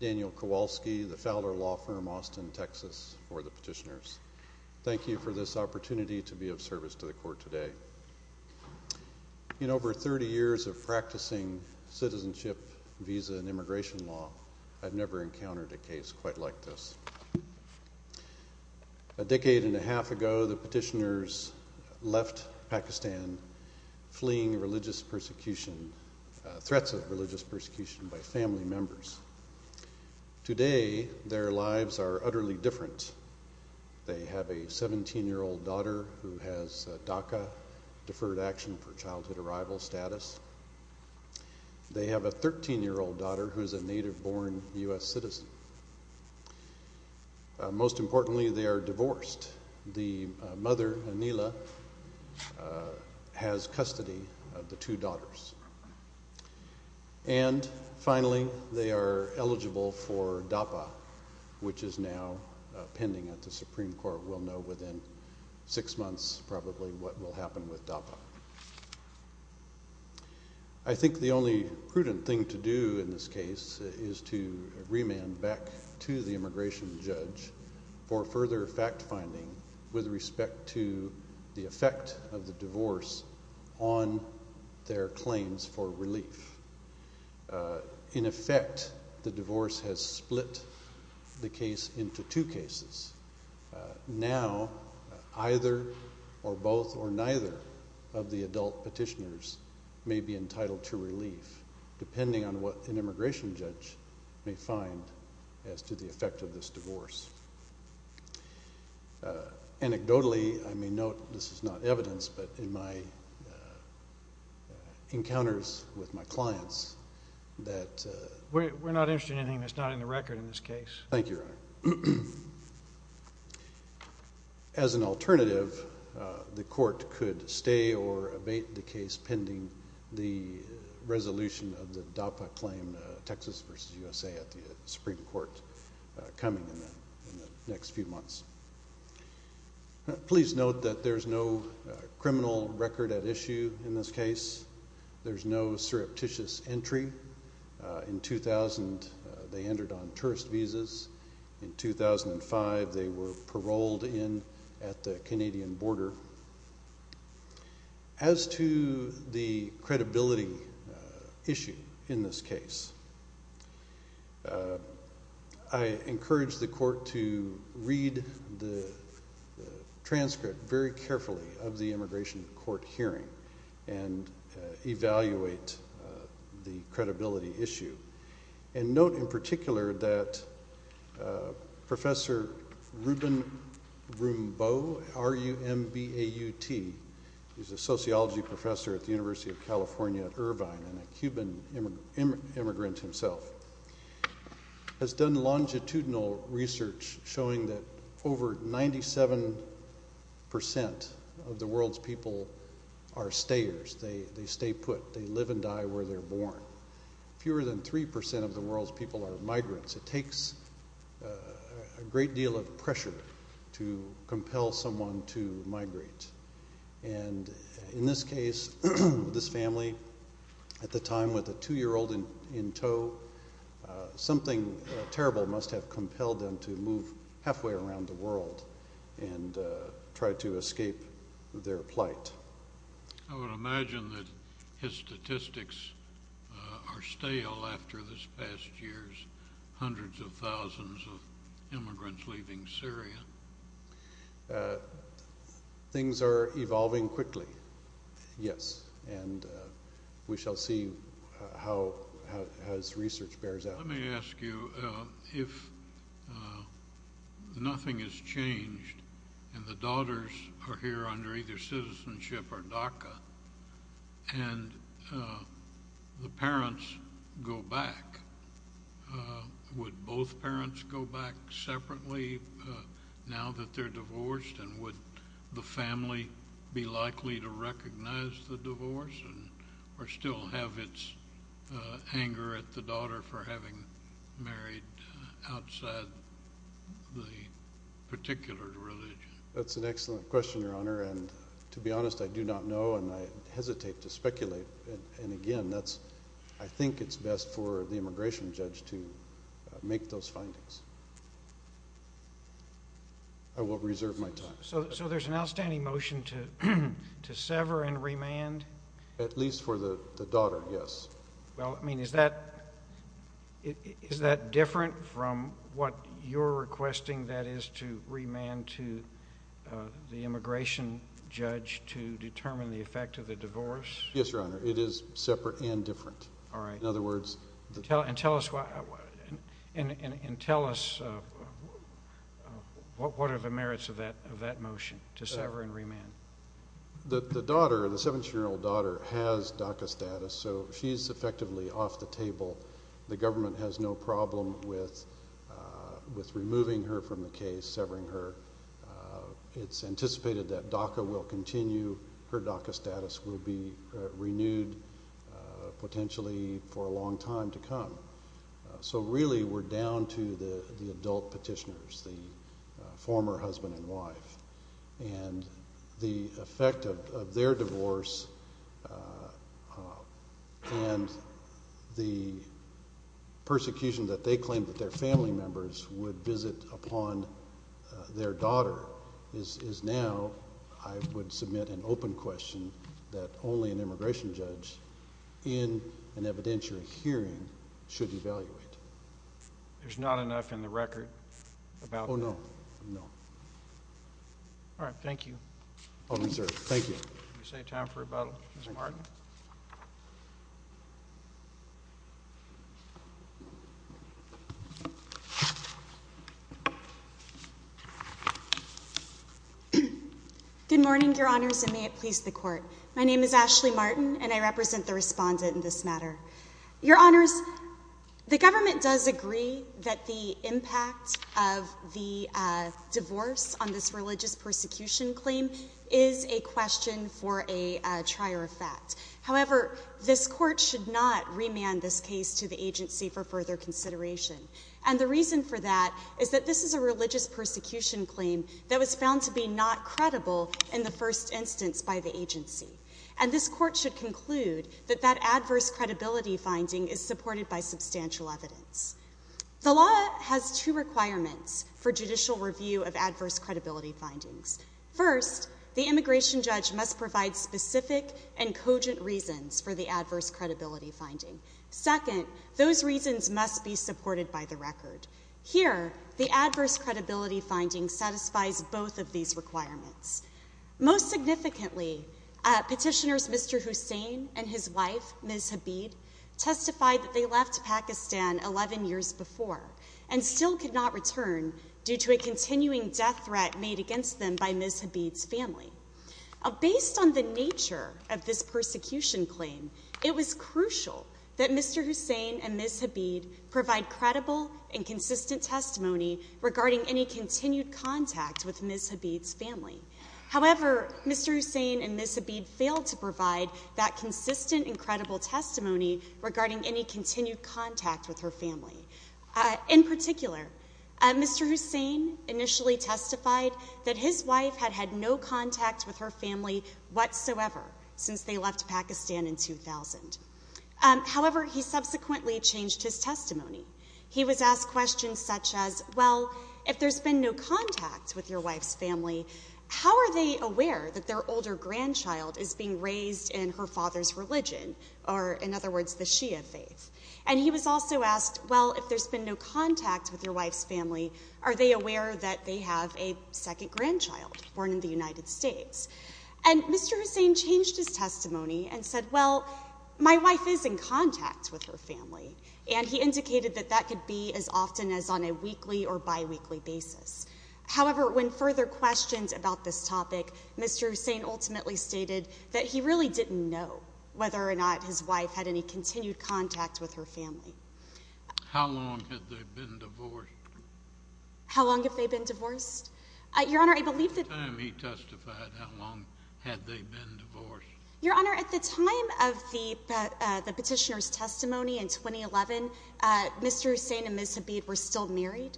Daniel Kowalski, The Fowler Law Firm, Austin, TX Thank you for this opportunity to be of service to the court today. In over 30 years of practicing citizenship, visa, and immigration law, I've never encountered a case quite like this. A decade and a half ago, the petitioners left Pakistan, fleeing religious persecution, threats of religious persecution by family members. Today, their lives are utterly different. They have a 17-year-old daughter who has DACA, Deferred Action for Childhood Arrival, status. They have a 13-year-old daughter who is a native-born U.S. citizen. Most importantly, they are divorced. The mother, Anila, has custody of the two daughters. And finally, they are eligible for DAPA, which is now pending at the Supreme Court. We'll know within six months, probably, what will happen with DAPA. I think the only prudent thing to do in this case is to remand back to the immigration judge for further fact-finding with respect to the effect of the divorce on their claims for relief. In effect, the divorce has split the case into two cases. Now, either or both or neither of the adult petitioners may be entitled to relief, depending on what an immigration judge may find as to the effect of this divorce. Anecdotally, I may note, this is not evidence, but in my encounters with my clients that— We're not interested in anything that's not in the record in this case. Thank you, Your Honor. As an alternative, the court could stay or abate the case pending the resolution of the DAPA claim, Texas v. USA, at the Supreme Court coming in the next few months. Please note that there's no criminal record at issue in this case. There's no surreptitious entry. In 2000, they entered on tourist visas. In 2005, they were paroled in at the Canadian border. As to the credibility issue in this case, I encourage the court to read the transcript very carefully of the immigration court hearing and evaluate the credibility issue. And note in particular that Professor Ruben Rumbaut, R-U-M-B-A-U-T, he's a sociology professor at the University of California at Irvine and a Cuban immigrant himself, has done longitudinal research showing that over 97% of the world's people are stayers. They stay put. They live and die where they're born. Fewer than 3% of the world's people are migrants. It takes a great deal of pressure to compel someone to migrate. And in this case, this family at the time with a 2-year-old in tow, something terrible must have compelled them to move halfway around the world and try to escape their plight. I would imagine that his statistics are stale after this past year's hundreds of thousands of immigrants leaving Syria. Things are evolving quickly, yes, and we shall see how his research bears out. Let me ask you, if nothing has changed and the daughters are here under either citizenship or DACA and the parents go back, would both parents go back separately now that they're divorced? And would the family be likely to recognize the divorce or still have its anger at the daughter for having married outside the particular religion? That's an excellent question, Your Honor, and to be honest, I do not know and I hesitate to speculate. And again, I think it's best for the immigration judge to make those findings. I will reserve my time. So there's an outstanding motion to sever and remand? At least for the daughter, yes. Well, I mean, is that different from what you're requesting, that is, to remand to the immigration judge to determine the effect of the divorce? Yes, Your Honor. It is separate and different. All right. In other words— And tell us what are the merits of that motion, to sever and remand? The daughter, the 17-year-old daughter, has DACA status, so she's effectively off the table. The government has no problem with removing her from the case, severing her. It's anticipated that DACA will continue. Her DACA status will be renewed potentially for a long time to come. So really we're down to the adult petitioners, the former husband and wife. And the effect of their divorce and the persecution that they claimed that their family members would visit upon their daughter is now, I would submit an open question, that only an immigration judge in an evidentiary hearing should evaluate. There's not enough in the record about that? No. All right. Thank you. I'll reserve. Thank you. Would you say time for rebuttal, Ms. Martin? Good morning, Your Honors, and may it please the Court. My name is Ashley Martin, and I represent the respondent in this matter. Your Honors, the government does agree that the impact of the divorce on this religious persecution claim is a question for a trier of fact. However, this Court should not remand this case to the agency for further consideration. And the reason for that is that this is a religious persecution claim that was found to be not credible in the first instance by the agency. And this Court should conclude that that adverse credibility finding is supported by substantial evidence. The law has two requirements for judicial review of adverse credibility findings. First, the immigration judge must provide specific and cogent reasons for the adverse credibility finding. Second, those reasons must be supported by the record. Here, the adverse credibility finding satisfies both of these requirements. Most significantly, petitioners Mr. Hussain and his wife, Ms. Habib, testified that they left Pakistan 11 years before and still could not return due to a continuing death threat made against them by Ms. Habib's family. Based on the nature of this persecution claim, it was crucial that Mr. Hussain and Ms. Habib provide credible and consistent testimony regarding any continued contact with Ms. Habib's family. However, Mr. Hussain and Ms. Habib failed to provide that consistent and credible testimony regarding any continued contact with her family. In particular, Mr. Hussain initially testified that his wife had had no contact with her family whatsoever since they left Pakistan in 2000. However, he subsequently changed his testimony. He was asked questions such as, well, if there's been no contact with your wife's family, how are they aware that their older grandchild is being raised in her father's religion, or in other words, the Shia faith? And he was also asked, well, if there's been no contact with your wife's family, are they aware that they have a second grandchild born in the United States? And Mr. Hussain changed his testimony and said, well, my wife is in contact with her family. And he indicated that that could be as often as on a weekly or biweekly basis. However, when further questions about this topic, Mr. Hussain ultimately stated that he really didn't know whether or not his wife had any continued contact with her family. How long had they been divorced? How long had they been divorced? Your Honor, I believe that— At the time he testified, how long had they been divorced? Your Honor, at the time of the petitioner's testimony in 2011, Mr. Hussain and Ms. Habib were still married.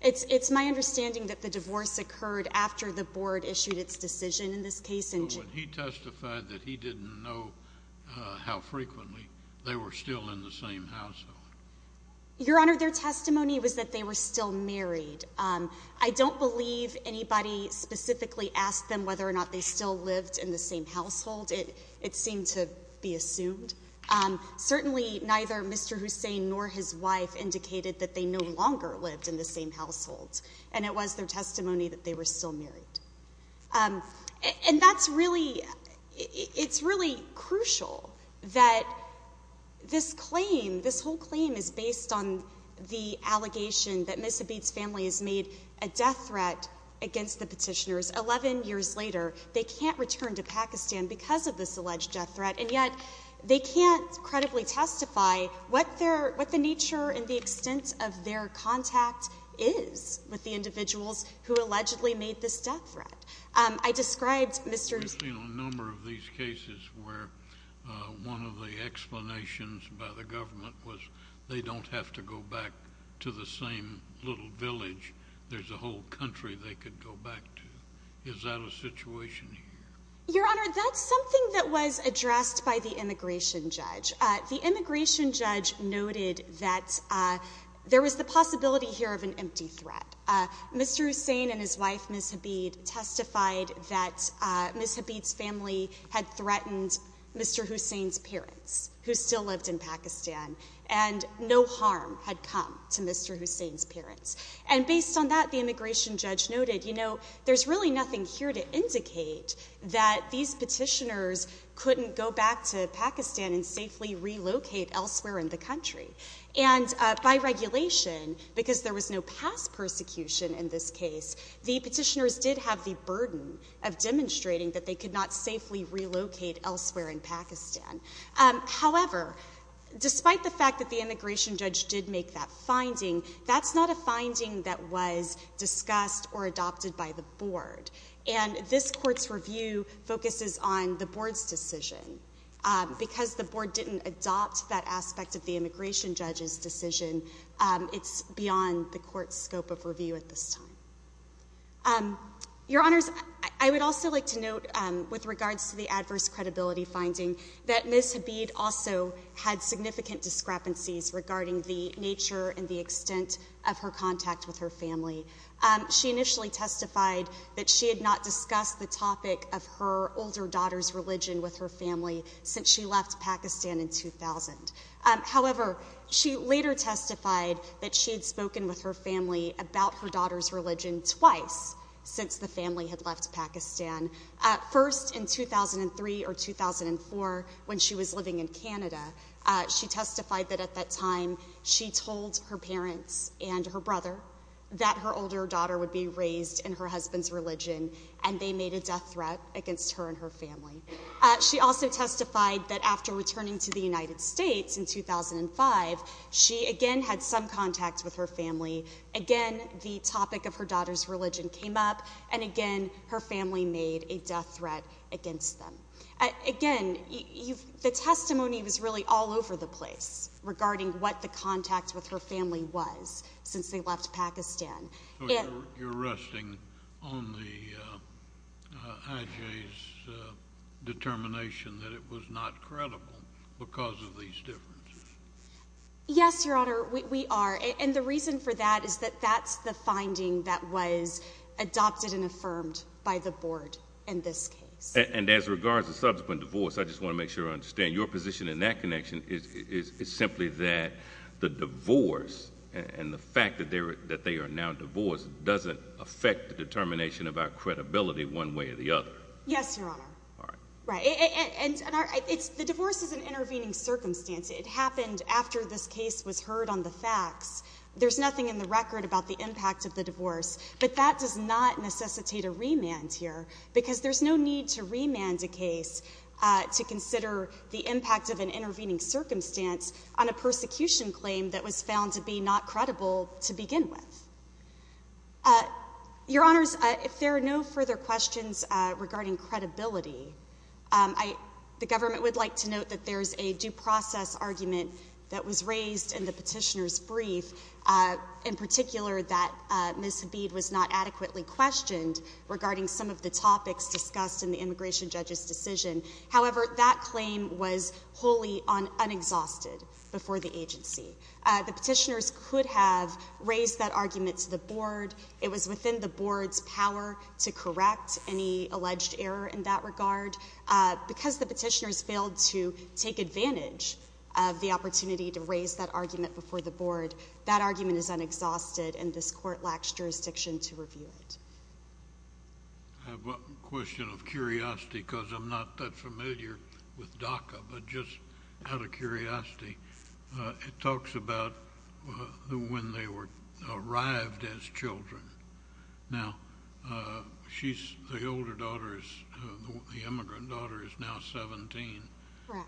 It's my understanding that the divorce occurred after the board issued its decision in this case. But when he testified that he didn't know how frequently, they were still in the same household. Your Honor, their testimony was that they were still married. I don't believe anybody specifically asked them whether or not they still lived in the same household. It seemed to be assumed. Certainly, neither Mr. Hussain nor his wife indicated that they no longer lived in the same household. And it was their testimony that they were still married. And that's really—it's really crucial that this claim, this whole claim, is based on the allegation that Ms. Habib's family has made a death threat against the petitioners. Eleven years later, they can't return to Pakistan because of this alleged death threat. And yet, they can't credibly testify what the nature and the extent of their contact is with the individuals who allegedly made this death threat. I described Mr. Hussain— We've seen a number of these cases where one of the explanations by the government was they don't have to go back to the same little village. There's a whole country they could go back to. Is that a situation here? Your Honor, that's something that was addressed by the immigration judge. The immigration judge noted that there was the possibility here of an empty threat. Mr. Hussain and his wife, Ms. Habib, testified that Ms. Habib's family had threatened Mr. Hussain's parents, who still lived in Pakistan, and no harm had come to Mr. Hussain's parents. And based on that, the immigration judge noted, you know, there's really nothing here to indicate that these petitioners couldn't go back to Pakistan and safely relocate elsewhere in the country. And by regulation, because there was no past persecution in this case, the petitioners did have the burden of demonstrating that they could not safely relocate elsewhere in Pakistan. However, despite the fact that the immigration judge did make that finding, that's not a finding that was discussed or adopted by the board. And this court's review focuses on the board's decision. Because the board didn't adopt that aspect of the immigration judge's decision, it's beyond the court's scope of review at this time. Your Honors, I would also like to note, with regards to the adverse credibility finding, that Ms. Habib also had significant discrepancies regarding the nature and the extent of her contact with her family. She initially testified that she had not discussed the topic of her older daughter's religion with her family since she left Pakistan in 2000. However, she later testified that she had spoken with her family about her daughter's religion twice since the family had left Pakistan, first in 2003 or 2004 when she was living in Canada. She testified that at that time she told her parents and her brother that her older daughter would be raised in her husband's religion, and they made a death threat against her and her family. She also testified that after returning to the United States in 2005, she again had some contact with her family. Again, the topic of her daughter's religion came up, and again, her family made a death threat against them. Again, the testimony was really all over the place regarding what the contact with her family was since they left Pakistan. So you're resting on the IJ's determination that it was not credible because of these differences? Yes, Your Honor, we are, and the reason for that is that that's the finding that was adopted and affirmed by the Board in this case. And as regards to subsequent divorce, I just want to make sure I understand, your position in that connection is simply that the divorce and the fact that they are now divorced doesn't affect the determination of our credibility one way or the other? Yes, Your Honor, and the divorce is an intervening circumstance. It happened after this case was heard on the facts. There's nothing in the record about the impact of the divorce, but that does not necessitate a remand here because there's no need to remand a case to consider the impact of an intervening circumstance on a persecution claim that was found to be not credible to begin with. Your Honors, if there are no further questions regarding credibility, the government would like to note that there is a due process argument that was raised in the petitioner's brief, in particular that Ms. Habib was not adequately questioned regarding some of the topics discussed in the immigration judge's decision. However, that claim was wholly unexhausted before the agency. The petitioners could have raised that argument to the Board. It was within the Board's power to correct any alleged error in that regard. Because the petitioners failed to take advantage of the opportunity to raise that argument before the Board, that argument is unexhausted, and this Court lacks jurisdiction to review it. I have a question of curiosity because I'm not that familiar with DACA, but just out of curiosity, it talks about when they arrived as children. Now, the older daughter, the immigrant daughter, is now 17. Correct.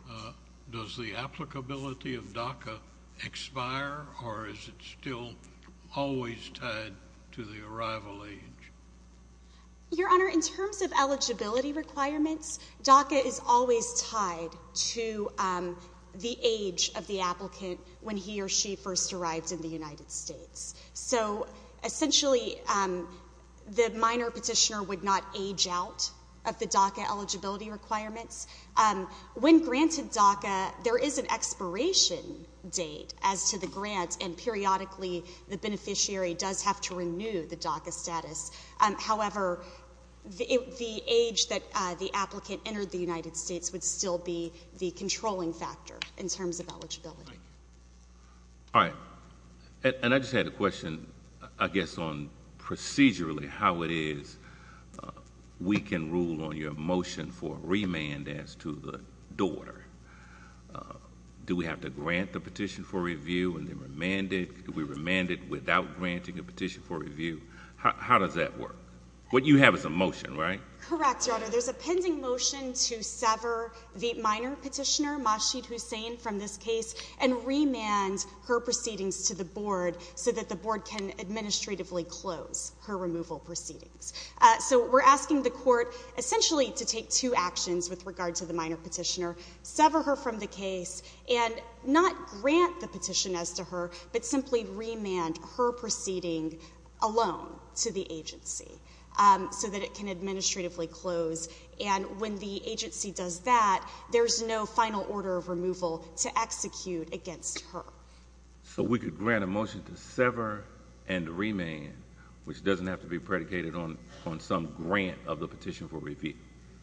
Does the applicability of DACA expire, or is it still always tied to the arrival age? Your Honor, in terms of eligibility requirements, DACA is always tied to the age of the applicant when he or she first arrived in the United States. So essentially, the minor petitioner would not age out of the DACA eligibility requirements. When granted DACA, there is an expiration date as to the grant, and periodically the beneficiary does have to renew the DACA status. However, the age that the applicant entered the United States would still be the controlling factor in terms of eligibility. All right. And I just had a question, I guess, on procedurally how it is we can rule on your motion for remand as to the daughter. Do we have to grant the petition for review and then remand it? Could we remand it without granting a petition for review? How does that work? Correct, Your Honor. There's a pending motion to sever the minor petitioner, Mashid Hussain, from this case and remand her proceedings to the board so that the board can administratively close her removal proceedings. So we're asking the court essentially to take two actions with regard to the minor petitioner, sever her from the case and not grant the petition as to her, but simply remand her proceeding alone to the agency so that it can administratively close. And when the agency does that, there's no final order of removal to execute against her. So we could grant a motion to sever and remand, which doesn't have to be predicated on some grant of the petition for review.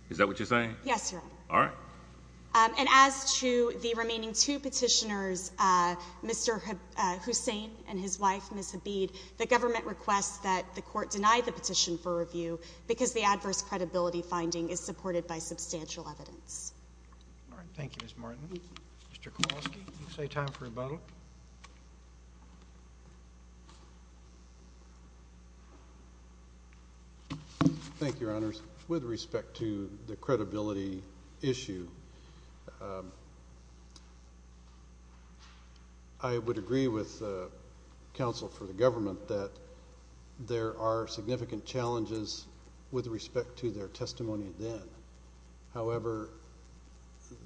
Is that what you're saying? Yes, Your Honor. All right. And as to the remaining two petitioners, Mr. Hussain and his wife, Ms. Habeed, the government requests that the court deny the petition for review because the adverse credibility finding is supported by substantial evidence. All right. Thank you, Ms. Martin. Mr. Kowalski, you say time for a vote. Thank you, Your Honors. With respect to the credibility issue, I would agree with counsel for the government that there are significant challenges with respect to their testimony then. However,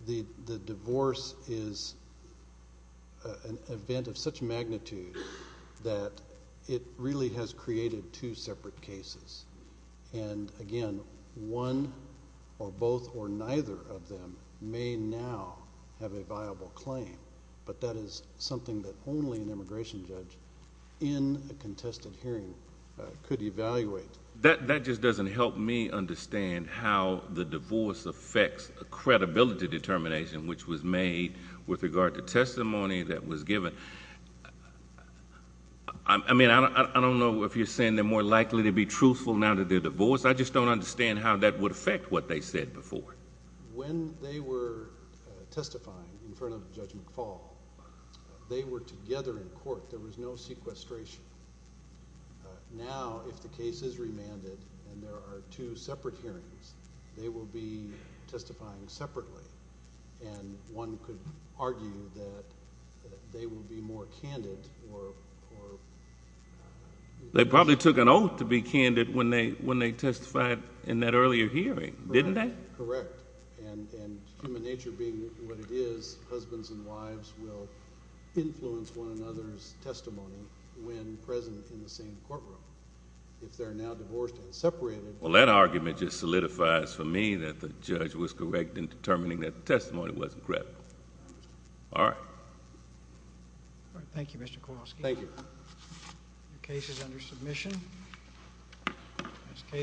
the divorce is an event of such magnitude that it really has created two separate cases. And again, one or both or neither of them may now have a viable claim, but that is something that only an immigration judge in a contested hearing could evaluate. That just doesn't help me understand how the divorce affects a credibility determination, which was made with regard to testimony that was given. I mean, I don't know if you're saying they're more likely to be truthful now that they're divorced. I just don't understand how that would affect what they said before. When they were testifying in front of Judge McFaul, they were together in court. There was no sequestration. Now, if the case is remanded and there are two separate hearings, they will be testifying separately, and one could argue that they will be more candid or— They probably took an oath to be candid when they testified in that earlier hearing, didn't they? Correct. And human nature being what it is, husbands and wives will influence one another's testimony when present in the same courtroom. If they're now divorced and separated— Well, that argument just solidifies for me that the judge was correct in determining that the testimony wasn't credible. All right. Thank you, Mr. Kowalski. Thank you. The case is under submission.